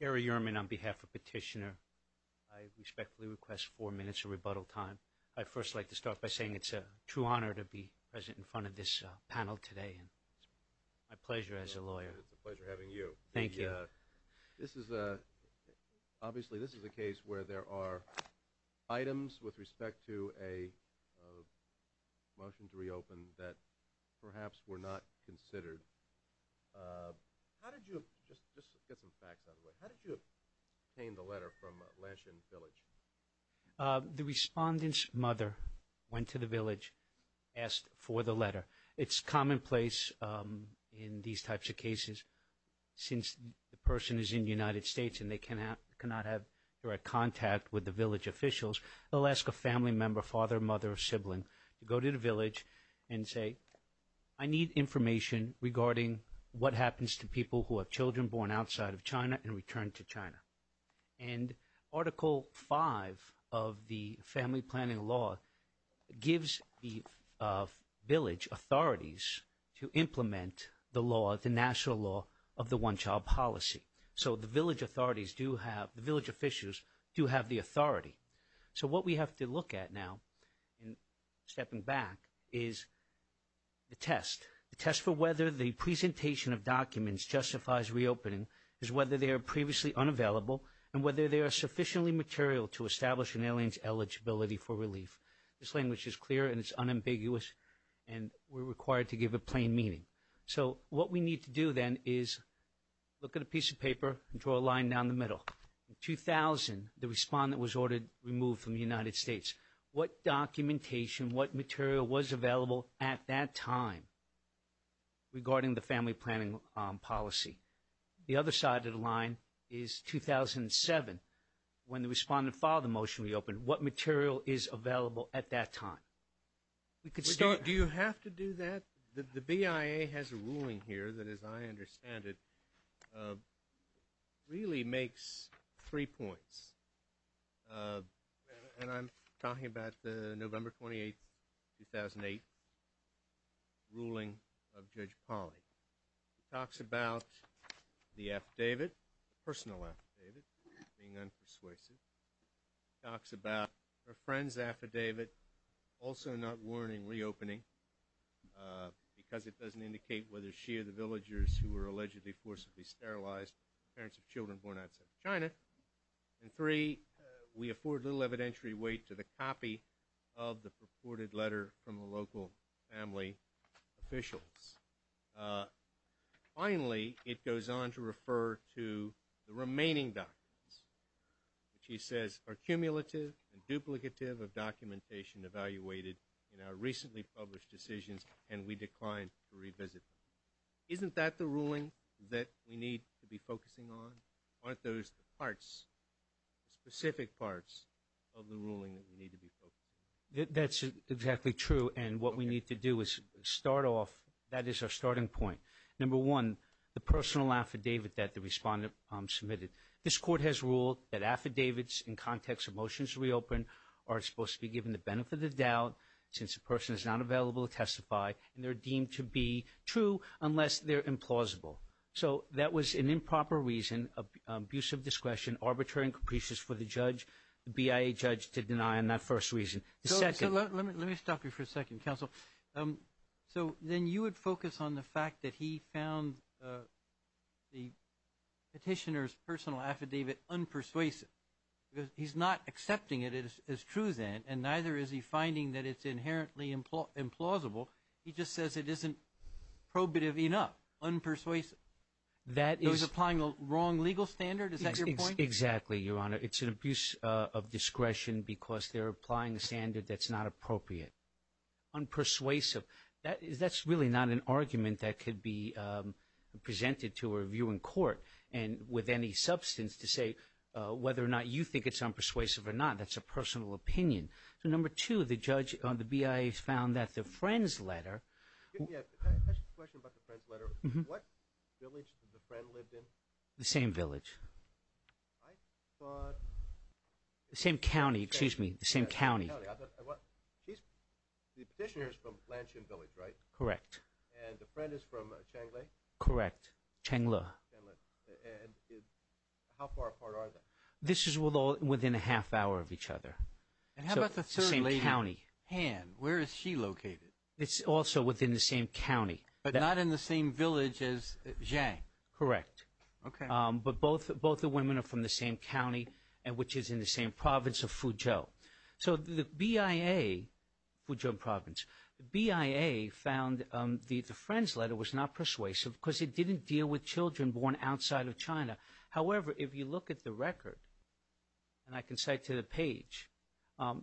Gary Ehrman on behalf of Petitioner. I respectfully request four minutes of rebuttal time. I'd first like to start by saying it's a true honor to be present in front of this panel today and my pleasure as a lawyer. It's a pleasure having you. Thank you. This is a obviously this is a case where there are items with respect to a motion to reopen that perhaps were not considered. How did you obtain the letter from Lanshan Village? The respondent's mother went to the village, asked for the letter. It's commonplace in these types of cases since the person is in the United States and they cannot have direct officials. They'll ask a family member, father, mother, or sibling to go to the village and say I need information regarding what happens to people who have children born outside of China and returned to China. And Article 5 of the family planning law gives the village authorities to implement the law, the national law, of the one-child policy. So the village authorities do have, the So what we have to look at now, stepping back, is the test. The test for whether the presentation of documents justifies reopening is whether they are previously unavailable and whether they are sufficiently material to establish an alien's eligibility for relief. This language is clear and it's unambiguous and we're required to give a plain meaning. So what we need to do then is look at a piece of paper and draw a line down the middle. In 2000, the respondent was ordered removed from the United States. What documentation, what material was available at that time regarding the family planning policy? The other side of the line is 2007 when the respondent filed the motion to reopen. What material is available at that time? Do you have to do that? The BIA has a ruling that, as I understand it, really makes three points. And I'm talking about the November 28, 2008, ruling of Judge Polley. He talks about the affidavit, personal affidavit, being unpersuasive. He talks about her friend's affidavit, also not of the villagers who were allegedly forcibly sterilized, parents of children born outside of China. And three, we afford little evidentiary weight to the copy of the purported letter from the local family officials. Finally, it goes on to refer to the remaining documents, which he says are cumulative and duplicative of documentation evaluated in our recently published decisions and we declined to revisit them. Isn't that the ruling that we need to be focusing on? Aren't those the parts, the specific parts of the ruling that we need to be focusing on? That's exactly true and what we need to do is start off, that is our starting point. Number one, the personal affidavit that the respondent submitted. This court has ruled that affidavits in context of motions reopened are supposed to be given the benefit of doubt since the they're deemed to be true unless they're implausible. So that was an improper reason of abuse of discretion, arbitrary and capricious for the judge, the BIA judge, to deny on that first reason. Let me stop you for a second, counsel. So then you would focus on the fact that he found the petitioner's personal affidavit unpersuasive. He's not accepting it as true then and neither is he finding that it's inherently implausible. He just says it isn't probative enough. Unpersuasive. That is applying the wrong legal standard. Is that your point? Exactly, your honor. It's an abuse of discretion because they're applying a standard that's not appropriate. Unpersuasive. That is, that's really not an argument that could be presented to a review in court and with any substance to say whether or not you think it's unpersuasive or not. That's a Number two, the judge on the BIA found that the friend's letter. I have a question about the friend's letter. What village did the friend live in? The same village. I thought... The same county, excuse me, the same county. She's, the petitioner's from Blanchard Village, right? Correct. And the friend is from Changle? Correct, Changle. And how far apart are they? This is within a half hour of each other. And how about the third lady? The same county. Han, where is she located? It's also within the same county. But not in the same village as Zhang? Correct. Okay. But both, both the women are from the same county and which is in the same province of Fuzhou. So the BIA, Fuzhou province, the BIA found the friend's letter was not persuasive because it didn't deal with children born outside of China. However, if you look at the record, and I can cite to the page,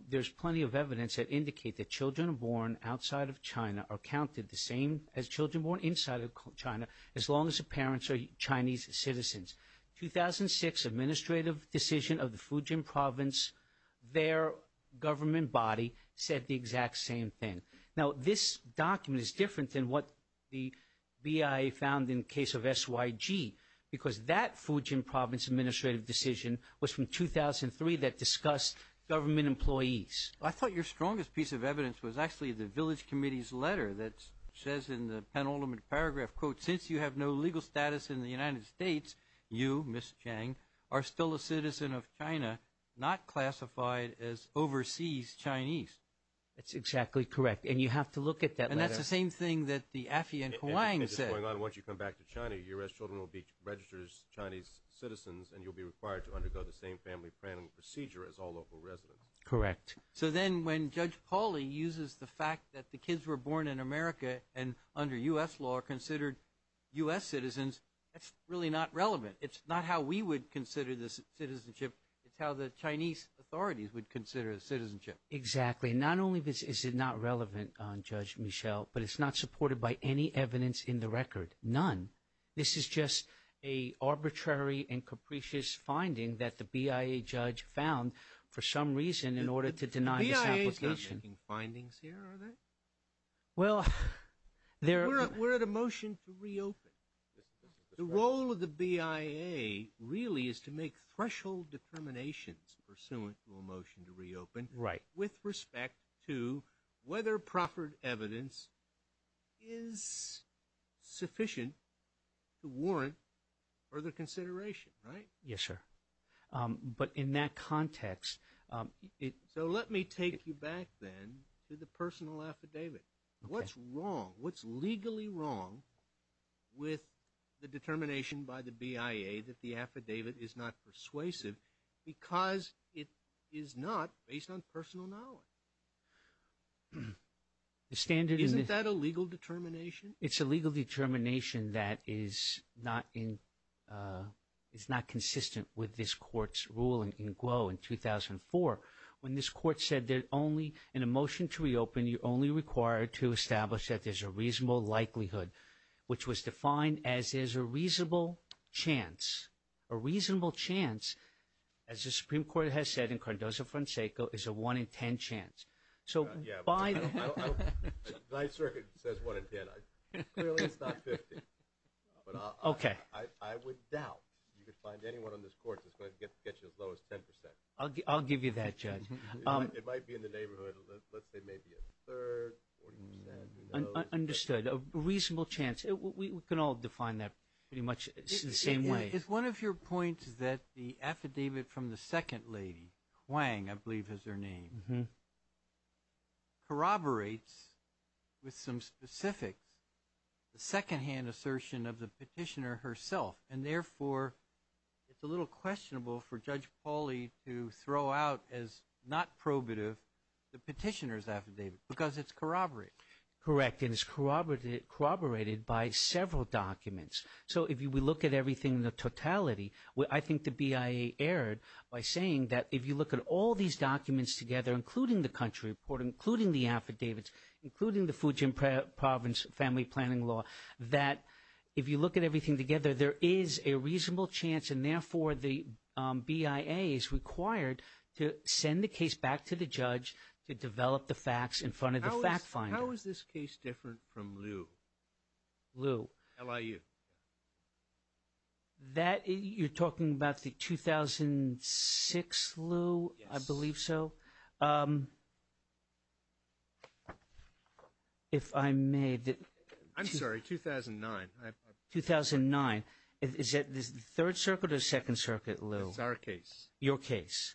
there's plenty of evidence that indicate that children born outside of China are counted the same as children born inside of China as long as the parents are Chinese citizens. 2006 administrative decision of the Fujian province, their government body said the exact same thing. Now this document is different than what the BIA found in the case of SYG, because that Fujian province administrative decision was from 2003 that discussed government employees. I thought your strongest piece of evidence was actually the village committee's letter that says in the penultimate paragraph, quote, since you have no legal status in the United States, you, Ms. Chang, are still a citizen of China, not classified as overseas Chinese. That's exactly correct. And you have to look at that letter. And that's the same thing that the AFI in Hawaii said. Once you come back to China, U.S. children will be registered as Chinese citizens and you'll be required to undergo the same family planning procedure as all local residents. Correct. So then when Judge Pauli uses the fact that the kids were born in America and under U.S. law are considered U.S. citizens, that's really not relevant. It's not how we would consider this citizenship. It's how the Chinese authorities would consider citizenship. Exactly. Not only is it not relevant on Judge Michelle, but it's not supported by any evidence in the record. None. This is just a arbitrary and capricious finding that the BIA judge found for some reason in order to deny this application. The BIA is not making findings here, are they? Well, they're... We're at a motion to reopen. The role of the BIA really is to make threshold determinations pursuant to a motion to reopen. Right. With respect to whether proffered evidence is sufficient to warrant further consideration, right? Yes, sir. But in that context... So let me take you back then to the personal affidavit. What's wrong, what's legally wrong with the determination by the BIA that the affidavit is not persuasive because it is not based on personal knowledge? Isn't that a legal determination? It's a legal determination that is not in... It's not consistent with this court's ruling in Guo in 2004 when this court said that only in a motion to reopen, you're only required to establish that there's a reasonable likelihood, which was defined as there's a reasonable chance. A reasonable chance, as the Supreme Court has said in Cardozo-Franceco, is a 1 in 10 chance. So by the... Yeah, but the Ninth Circuit says 1 in 10. Clearly, it's not 50. But I would doubt you could find anyone on this court that's going to get you as low as 10%. I'll give you that, Judge. It might be in the neighborhood of, let's say, maybe a third, 40%, who knows? Understood. A reasonable chance. We can all define that pretty much the same way. Is one of your points that the affidavit from the second lady, Huang, I believe is her name, corroborates with some specifics the secondhand assertion of the petitioner herself? And therefore, it's a little questionable for Judge Pauly to throw out as not probative the petitioner's affidavit because it's corroborated. Correct. And it's corroborated by several documents. So if we look at everything in the totality, I think the BIA erred by saying that if you look at all these documents together, including the country report, including the affidavits, including the Fujian Province family planning law, that if you look at everything together, there is a reasonable chance. And therefore, the BIA is required to send the case back to the judge to develop the facts in front of the fact finder. How is this case different from Lew? Lew. L-I-U. You're talking about the 2006 Lew? Yes. I believe so. If I may. I'm sorry, 2009. 2009. Is that the Third Circuit or Second Circuit Lew? It's our case. Your case.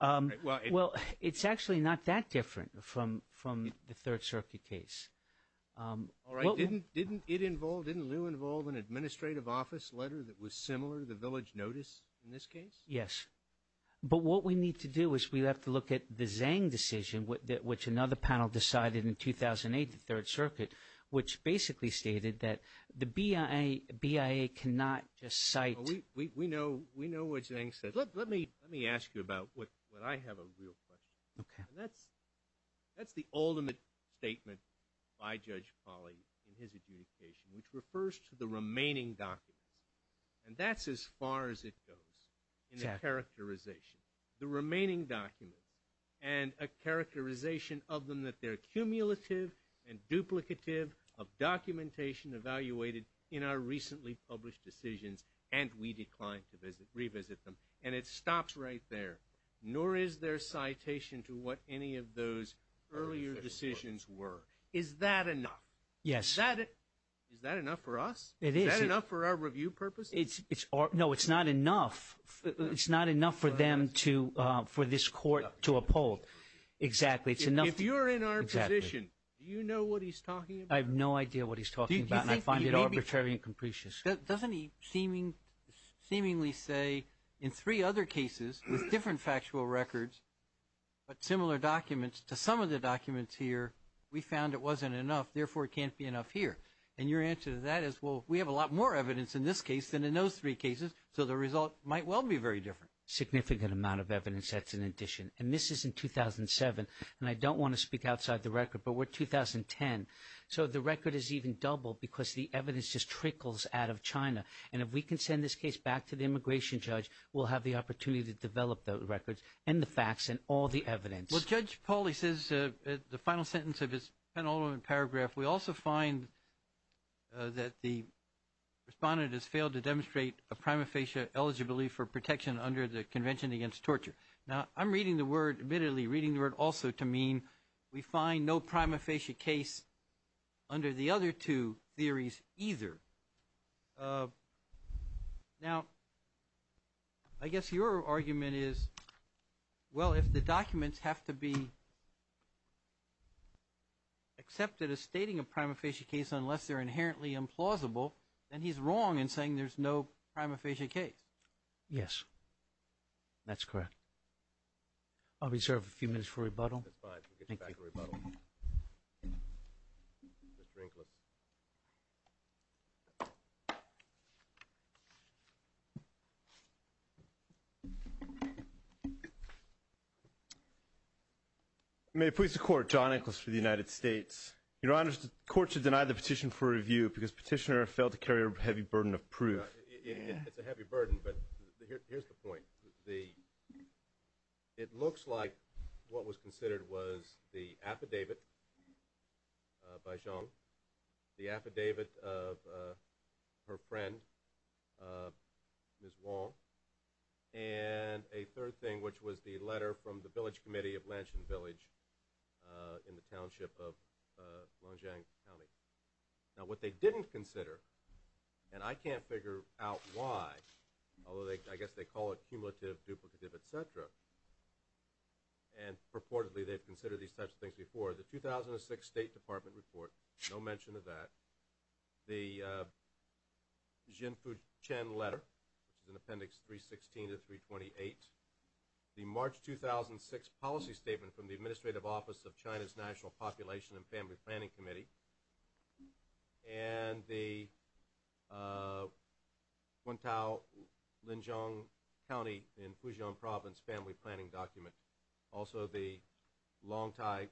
Well, it's actually not that different from the Third Circuit case. All right. Didn't it involve, didn't Lew involve an administrative office letter that was similar to the village notice in this case? Yes. But what we need to do is we have to look at the Zhang decision, which another panel decided in 2008, the Third Circuit, which basically stated that the BIA cannot just cite. We know what Zhang says. Let me ask you about what I have a real question. Okay. That's the ultimate statement by Judge Polly in his adjudication, which refers to the remaining documents. And that's as far as it goes in the characterization. The remaining documents and a characterization of them that they're cumulative and duplicative of documentation evaluated in our recently published decisions and we declined to revisit them. And it stops right there. Nor is there citation to what any of those earlier decisions were. Is that enough? Yes. Is that enough for us? It is. Is that enough for our review purposes? No, it's not enough. It's not enough for them to, for this court to uphold. Exactly. If you're in our position, do you know what he's talking about? I have no idea what he's talking about. I find it arbitrary and capricious. Doesn't he seemingly say in three other cases with different factual records, but similar documents to some of the documents here, we found it wasn't enough, therefore it can't be enough here. And your answer to that is, well, we have a lot more evidence in this case than in those three cases, so the result might well be very different. Significant amount of evidence sets in addition. And this is in 2007. And I don't want to speak outside the record, but we're 2010. So the record is even doubled because the evidence just trickles out of China. And if we can send this case back to the immigration judge, we'll have the opportunity to develop the records and the facts and all the evidence. Well, Judge Pauly says the final sentence of his penultimate paragraph, we also find that the respondent has failed to demonstrate a prima facie eligibility for protection under the Convention Against Torture. Now, I'm reading the word, admittedly, reading the word also to mean we find no prima facie case under the other two theories either. Now, I guess your argument is, well, if the documents have to be accepted as stating a prima facie case unless they're inherently implausible, then he's wrong in saying there's no prima facie case. Yes, that's correct. I'll reserve a few minutes for rebuttal. That's fine. We'll get you back for rebuttal. Thank you. Mr. Inglis. May it please the Court, John Inglis for the United States. Your Honor, the Court should deny the petition for review because Petitioner failed to carry a heavy burden of proof. It's a heavy burden, but here's the point. It looks like what was considered was the affidavit by John, the affidavit of her friend, Ms. Wong, and a third thing, which was the letter from the village committee of Lanshan Village in the township of Longjiang County. Now, what they didn't consider, and I can't figure out why, although I guess they call it cumulative, duplicative, et cetera, and purportedly they've considered these types of things before, the 2006 State Department report, no mention of that, the Xin Fuqian letter, which is in Appendix 316 to 328, the March 2006 policy statement from the Administrative Office of China's National Population and Family Planning Committee, and the Guangtao-Linjiang County in Fuzhou Province family planning document, also the Longtai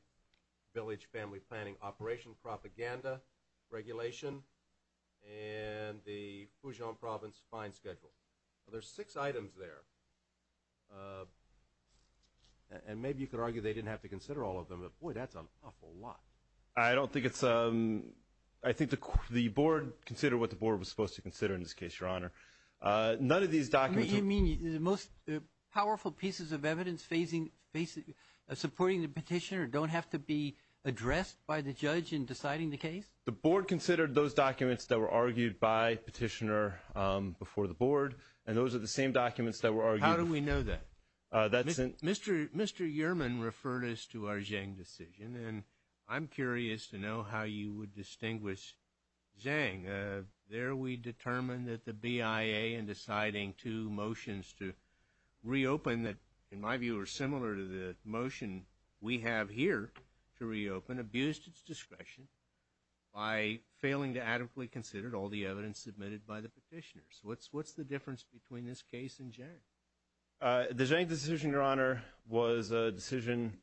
Village family planning operation propaganda regulation, and the Fuzhou Province fine schedule. There's six items there, and maybe you could argue they didn't have to consider all of them, but boy, that's an awful lot. I don't think it's – I think the board considered what the board was supposed to consider in this case, Your Honor. None of these documents – You mean the most powerful pieces of evidence supporting the petitioner don't have to be addressed by the judge in deciding the case? The board considered those documents that were argued by the petitioner before the board, and those are the same documents that were argued – How do we know that? Mr. Yerman referred us to our Zheng decision, and I'm curious to know how you would distinguish Zheng. There we determined that the BIA, in deciding two motions to reopen that, in my view, are similar to the motion we have here to reopen, abused its discretion by failing to adequately consider all the evidence submitted by the petitioners. What's the difference between this case and Zheng? The Zheng decision, Your Honor, was a decision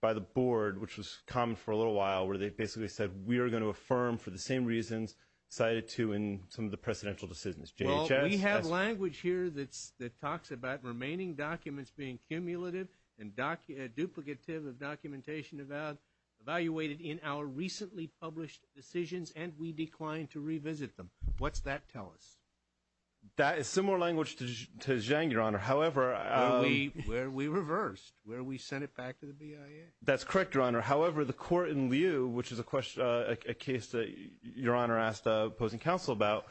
by the board, which was common for a little while, where they basically said we are going to affirm for the same reasons cited to in some of the precedential decisions. Well, we have language here that talks about remaining documents being cumulative and duplicative of documentation evaluated in our recently published decisions, and we declined to revisit them. What's that tell us? That is similar language to Zheng, Your Honor. Where we reversed, where we sent it back to the BIA. That's correct, Your Honor. However, the court in Liu, which is a case that Your Honor asked opposing counsel about,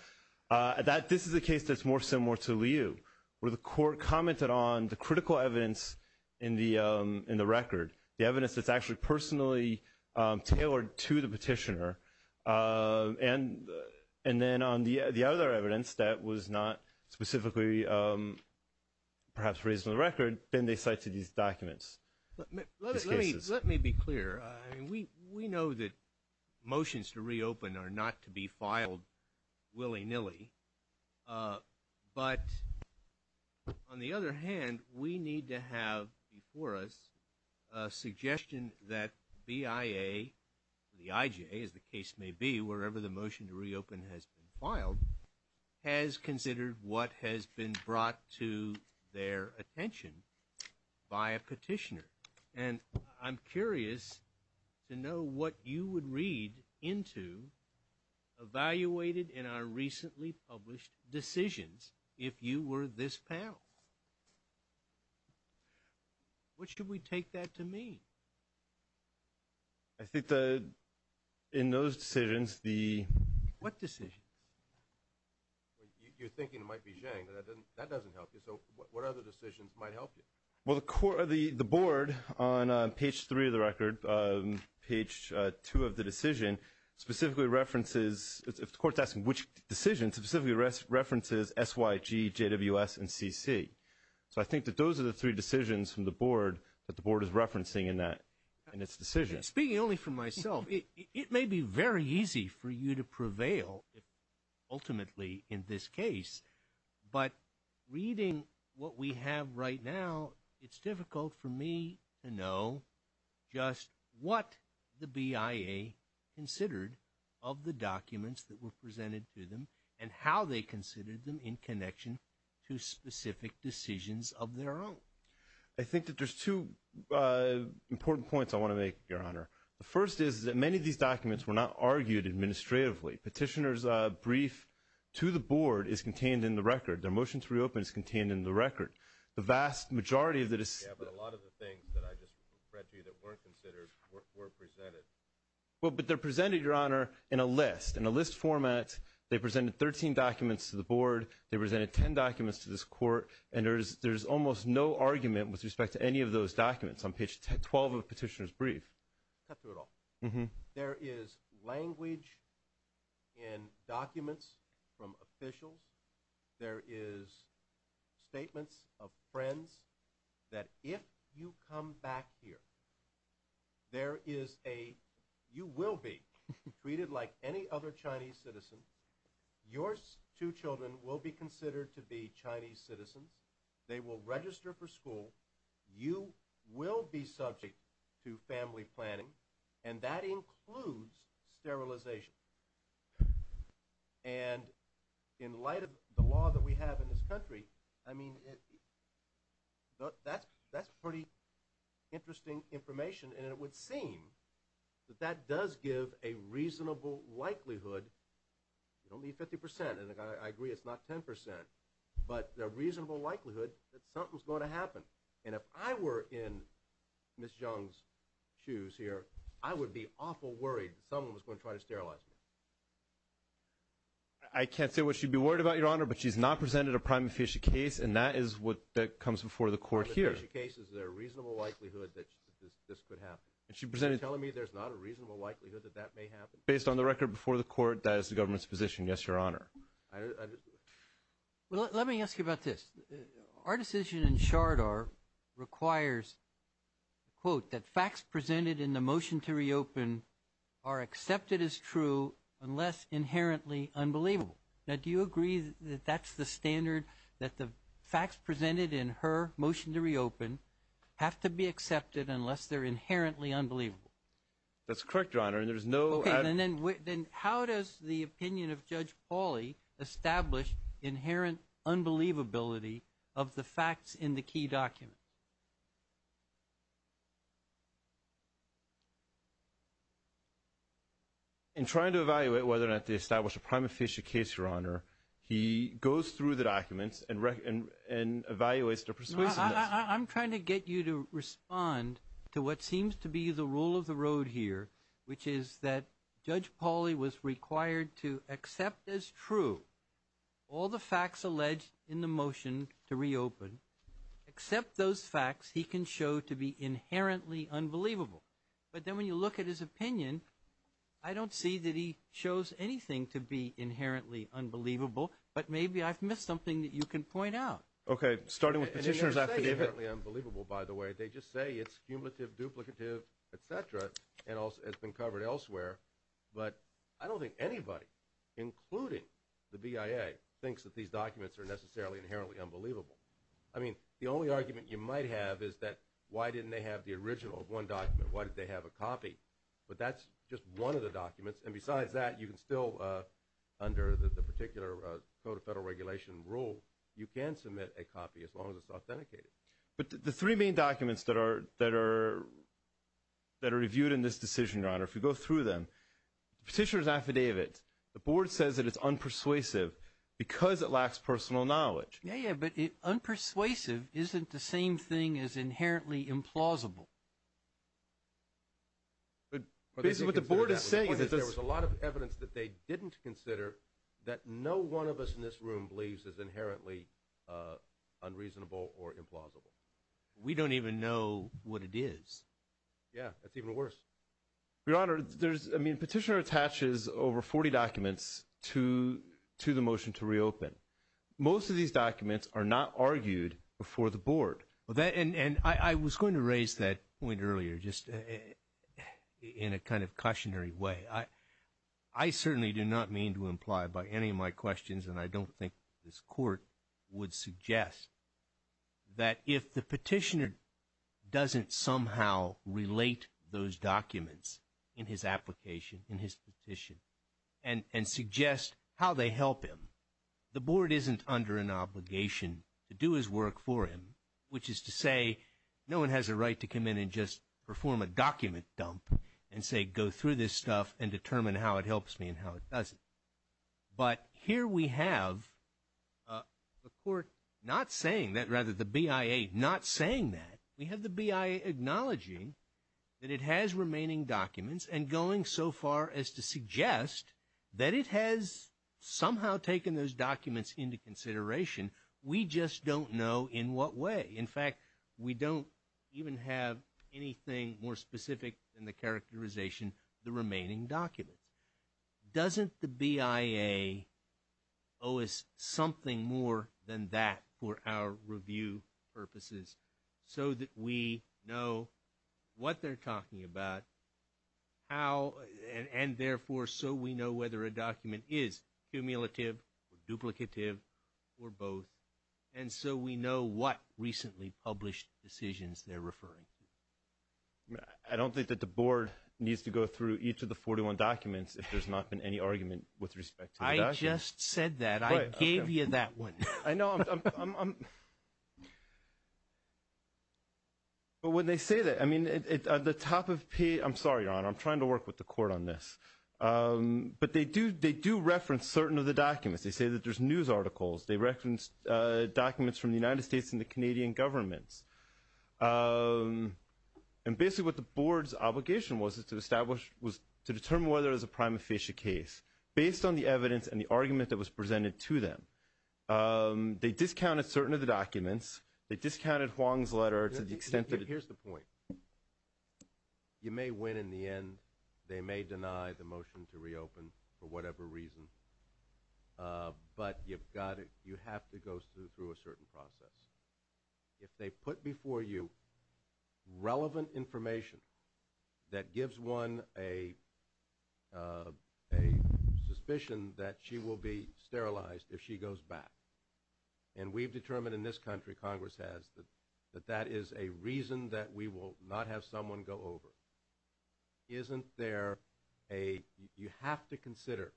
this is a case that's more similar to Liu, where the court commented on the critical evidence in the record, the evidence that's actually personally tailored to the petitioner. And then on the other evidence that was not specifically perhaps raised in the record, then they cited these documents. Let me be clear. We know that motions to reopen are not to be filed willy-nilly, but on the other hand, we need to have before us a suggestion that BIA or the IJ, as the case may be, wherever the motion to reopen has been filed, has considered what has been brought to their attention by a petitioner. And I'm curious to know what you would read into evaluated in our recently published decisions if you were this panel. What should we take that to mean? I think that in those decisions, the – What decisions? You're thinking it might be Zheng, but that doesn't help you. So what other decisions might help you? Well, the board on page 3 of the record, page 2 of the decision, specifically references – if the court's asking which decision, specifically references SYG, JWS, and CC. So I think that those are the three decisions from the board that the board is referencing in that – in its decision. Speaking only for myself, it may be very easy for you to prevail ultimately in this case, but reading what we have right now, it's difficult for me to know just what the BIA considered of the documents that were presented to them and how they considered them in connection to specific decisions of their own. I think that there's two important points I want to make, Your Honor. The first is that many of these documents were not argued administratively. Petitioner's brief to the board is contained in the record. Their motion to reopen is contained in the record. The vast majority of the – Yeah, but a lot of the things that I just read to you that weren't considered were presented. Well, but they're presented, Your Honor, in a list, in a list format. They presented 13 documents to the board. They presented 10 documents to this court. And there's almost no argument with respect to any of those documents on page 12 of the petitioner's brief. Mm-hmm. There is language in documents from officials. There is statements of friends that if you come back here, there is a – you will be treated like any other Chinese citizen. Your two children will be considered to be Chinese citizens. They will register for school. You will be subject to family planning. And that includes sterilization. And in light of the law that we have in this country, I mean, that's pretty interesting information. And it would seem that that does give a reasonable likelihood – you don't need 50 percent, and I agree it's not 10 percent – but a reasonable likelihood that something's going to happen. And if I were in Ms. Jiang's shoes here, I would be awful worried that someone was going to try to sterilize me. I can't say what she'd be worried about, Your Honor, but she's not presented a prime official case, and that is what comes before the court here. A prime official case, is there a reasonable likelihood that this could happen? Are you telling me there's not a reasonable likelihood that that may happen? Based on the record before the court, that is the government's position, yes, Your Honor. Well, let me ask you about this. Our decision in Shardar requires, quote, that facts presented in the motion to reopen are accepted as true unless inherently unbelievable. Now, do you agree that that's the standard, that the facts presented in her motion to reopen have to be accepted unless they're inherently unbelievable? That's correct, Your Honor, and there's no – then how does the opinion of Judge Pauly establish inherent unbelievability of the facts in the key document? In trying to evaluate whether or not to establish a prime official case, Your Honor, he goes through the documents and evaluates their persuasiveness. I'm trying to get you to respond to what seems to be the rule of the road here, which is that Judge Pauly was required to accept as true all the facts alleged in the motion to reopen, accept those facts he can show to be inherently unbelievable. But then when you look at his opinion, I don't see that he shows anything to be inherently unbelievable, but maybe I've missed something that you can point out. Okay, starting with Petitioner's affidavit. And they don't say inherently unbelievable, by the way. They just say it's cumulative, duplicative, et cetera, and it's been covered elsewhere. But I don't think anybody, including the BIA, thinks that these documents are necessarily inherently unbelievable. I mean, the only argument you might have is that why didn't they have the original of one document? Why did they have a copy? But that's just one of the documents. And besides that, you can still, under the particular Code of Federal Regulation rule, you can submit a copy as long as it's authenticated. But the three main documents that are reviewed in this decision, Your Honor, if you go through them, Petitioner's affidavit, the board says that it's unpersuasive because it lacks personal knowledge. Yeah, yeah, but unpersuasive isn't the same thing as inherently implausible. But basically what the board is saying is that there was a lot of evidence that they didn't consider that no one of us in this room believes is inherently unreasonable or implausible. We don't even know what it is. Yeah, that's even worse. Your Honor, there's, I mean, Petitioner attaches over 40 documents to the motion to reopen. Most of these documents are not argued before the board. And I was going to raise that point earlier just in a kind of cautionary way. I certainly do not mean to imply by any of my questions, and I don't think this court would suggest that if the petitioner doesn't somehow relate those documents in his application, in his petition, and suggest how they help him, the board isn't under an obligation to do his work for him, which is to say no one has a right to come in and just perform a document dump and say go through this stuff and determine how it helps me and how it doesn't. But here we have the court not saying that, rather the BIA not saying that. We have the BIA acknowledging that it has remaining documents and going so far as to suggest that it has somehow taken those documents into consideration. We just don't know in what way. In fact, we don't even have anything more specific than the characterization, the remaining documents. Doesn't the BIA owe us something more than that for our review purposes so that we know what they're talking about, and therefore so we know whether a document is cumulative or duplicative or both, and so we know what recently published decisions they're referring to? I don't think that the board needs to go through each of the 41 documents if there's not been any argument with respect to the documents. I just said that. I gave you that one. I know. But when they say that, I mean, at the top of page, I'm sorry, Your Honor, I'm trying to work with the court on this. But they do reference certain of the documents. They say that there's news articles. They reference documents from the United States and the Canadian governments. And basically what the board's obligation was to establish was to determine whether it was a prima facie case based on the evidence and the argument that was presented to them. They discounted certain of the documents. They discounted Huang's letter to the extent that it – Here's the point. You may win in the end. They may deny the motion to reopen for whatever reason. But you've got to – you have to go through a certain process. If they put before you relevant information that gives one a suspicion that she will be sterilized if she goes back, and we've determined in this country, Congress has, that that is a reason that we will not have someone go over, isn't there a – you have to consider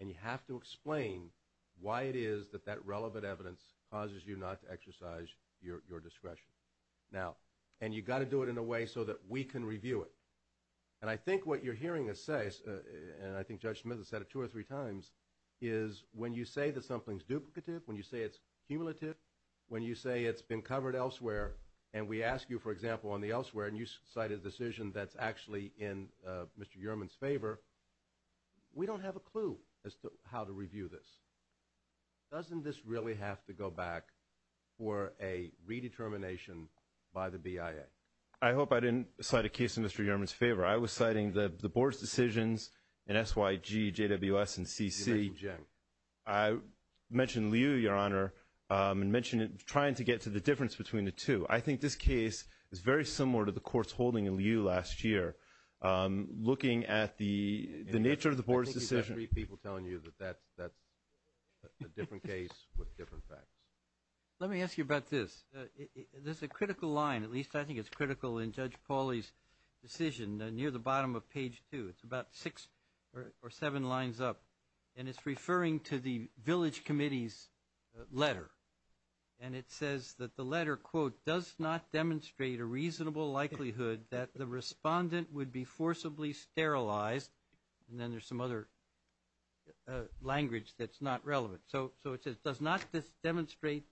and you have to explain why it is that that relevant evidence causes you not to exercise your discretion. Now, and you've got to do it in a way so that we can review it. And I think what you're hearing us say, and I think Judge Smith has said it two or three times, is when you say that something's duplicative, when you say it's cumulative, when you say it's been covered elsewhere, and we ask you, for example, on the elsewhere, and you cite a decision that's actually in Mr. Yerman's favor, we don't have a clue as to how to review this. Doesn't this really have to go back for a redetermination by the BIA? I hope I didn't cite a case in Mr. Yerman's favor. I was citing the board's decisions in SYG, JWS, and CC. You mentioned Jim. I mentioned Liu, Your Honor, and mentioned trying to get to the difference between the two. I think this case is very similar to the court's holding in Liu last year, looking at the nature of the board's decision. I think you've got three people telling you that that's a different case with different facts. Let me ask you about this. There's a critical line, at least I think it's critical in Judge Pauly's decision, near the bottom of page two. It's about six or seven lines up, and it's referring to the village committee's letter. And it says that the letter, quote, does not demonstrate a reasonable likelihood that the respondent would be forcibly sterilized. And then there's some other language that's not relevant. So it says it does not demonstrate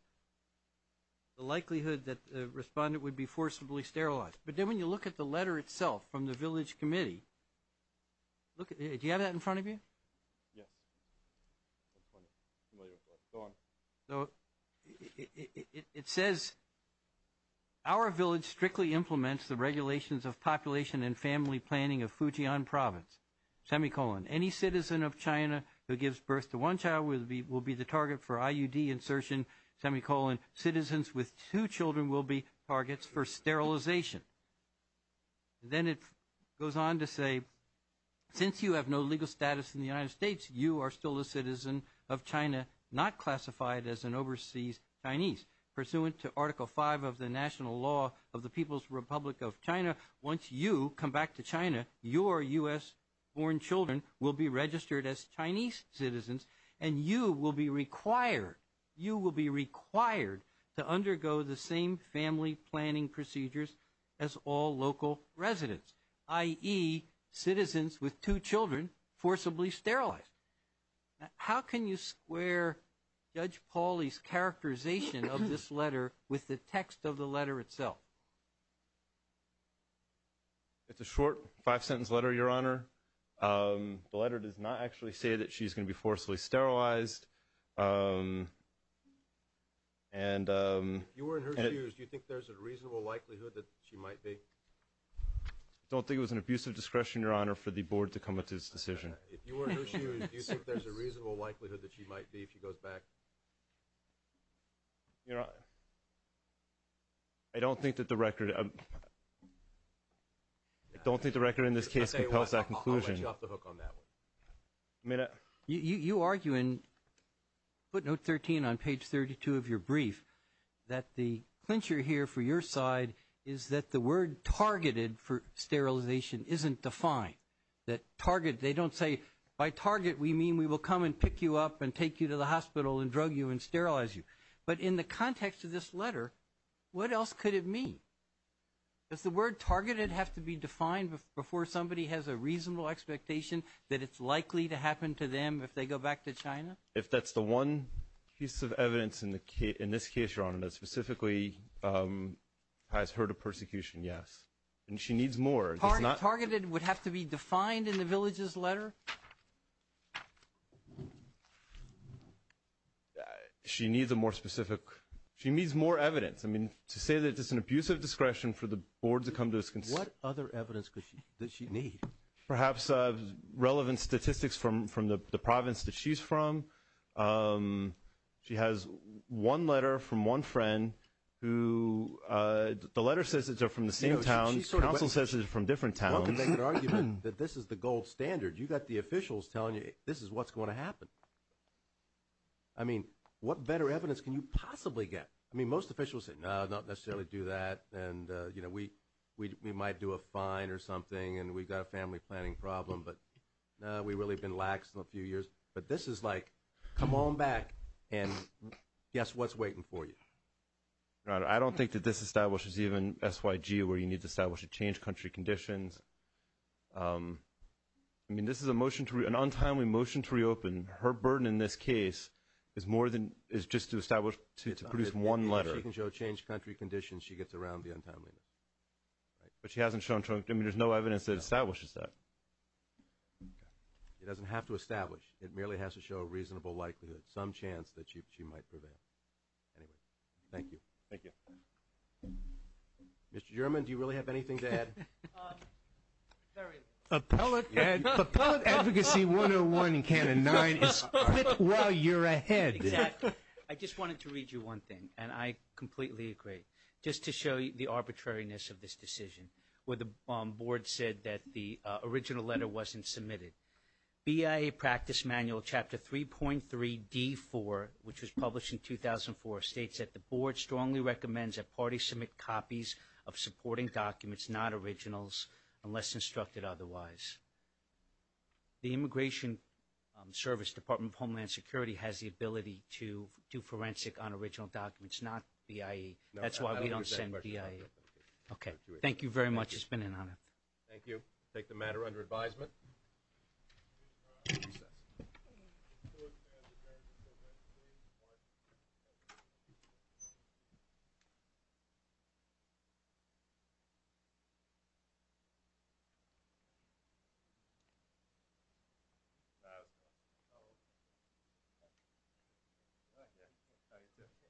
the likelihood that the respondent would be forcibly sterilized. But then when you look at the letter itself from the village committee, do you have that in front of you? Yes. It says our village strictly implements the regulations of population and family planning of Fujian Province, semicolon. Any citizen of China who gives birth to one child will be the target for IUD insertion, semicolon. Citizens with two children will be targets for sterilization. Then it goes on to say, since you have no legal status in the United States, you are still a citizen of China not classified as an overseas Chinese. Pursuant to Article V of the National Law of the People's Republic of China, once you come back to China, your U.S.-born children will be registered as Chinese citizens, and you will be required, to undergo the same family planning procedures as all local residents, i.e., citizens with two children forcibly sterilized. How can you square Judge Pauly's characterization of this letter with the text of the letter itself? It's a short five-sentence letter, Your Honor. The letter does not actually say that she's going to be forcibly sterilized. If you were in her shoes, do you think there's a reasonable likelihood that she might be? I don't think it was an abuse of discretion, Your Honor, for the Board to come up with this decision. If you were in her shoes, do you think there's a reasonable likelihood that she might be if she goes back? Your Honor, I don't think that the record in this case compels that conclusion. I'll let you off the hook on that one. You argue in footnote 13 on page 32 of your brief that the clincher here for your side is that the word targeted for sterilization isn't defined. They don't say by target we mean we will come and pick you up and take you to the hospital and drug you and sterilize you. But in the context of this letter, what else could it mean? Does the word targeted have to be defined before somebody has a reasonable expectation that it's likely to happen to them if they go back to China? If that's the one piece of evidence in this case, Your Honor, that specifically has her to persecution, yes. And she needs more. Targeted would have to be defined in the village's letter? She needs a more specific. She needs more evidence. I mean, to say that it's an abuse of discretion for the Board to come to this conclusion. What other evidence does she need? Perhaps relevant statistics from the province that she's from. She has one letter from one friend who the letter says it's from the same town. Council says it's from different towns. One could make an argument that this is the gold standard. You've got the officials telling you this is what's going to happen. I mean, what better evidence can you possibly get? I mean, most officials say, no, not necessarily do that. And, you know, we might do a fine or something, and we've got a family planning problem. But, no, we've really been lax in a few years. But this is like, come on back and guess what's waiting for you. I don't think that this establishes even SYG, where you need to establish a change of country conditions. I mean, this is an untimely motion to reopen. Her burden in this case is more than just to establish to produce one letter. If she can show change of country conditions, she gets around the untimeliness. But she hasn't shown trunk. I mean, there's no evidence that establishes that. It doesn't have to establish. It merely has to show a reasonable likelihood, some chance that she might prevail. Anyway, thank you. Thank you. Mr. German, do you really have anything to add? Very little. Appellate advocacy 101 in Canon 9 is split while you're ahead. Exactly. I just wanted to read you one thing, and I completely agree. Just to show you the arbitrariness of this decision, where the board said that the original letter wasn't submitted. BIA practice manual chapter 3.3D4, which was published in 2004, states that the board strongly recommends that parties submit copies of supporting documents, not originals, unless instructed otherwise. The Immigration Service Department of Homeland Security has the ability to do forensic on original documents, not BIA. That's why we don't send BIA. Okay. Thank you very much. It's been an honor. Thank you. I take the matter under advisement.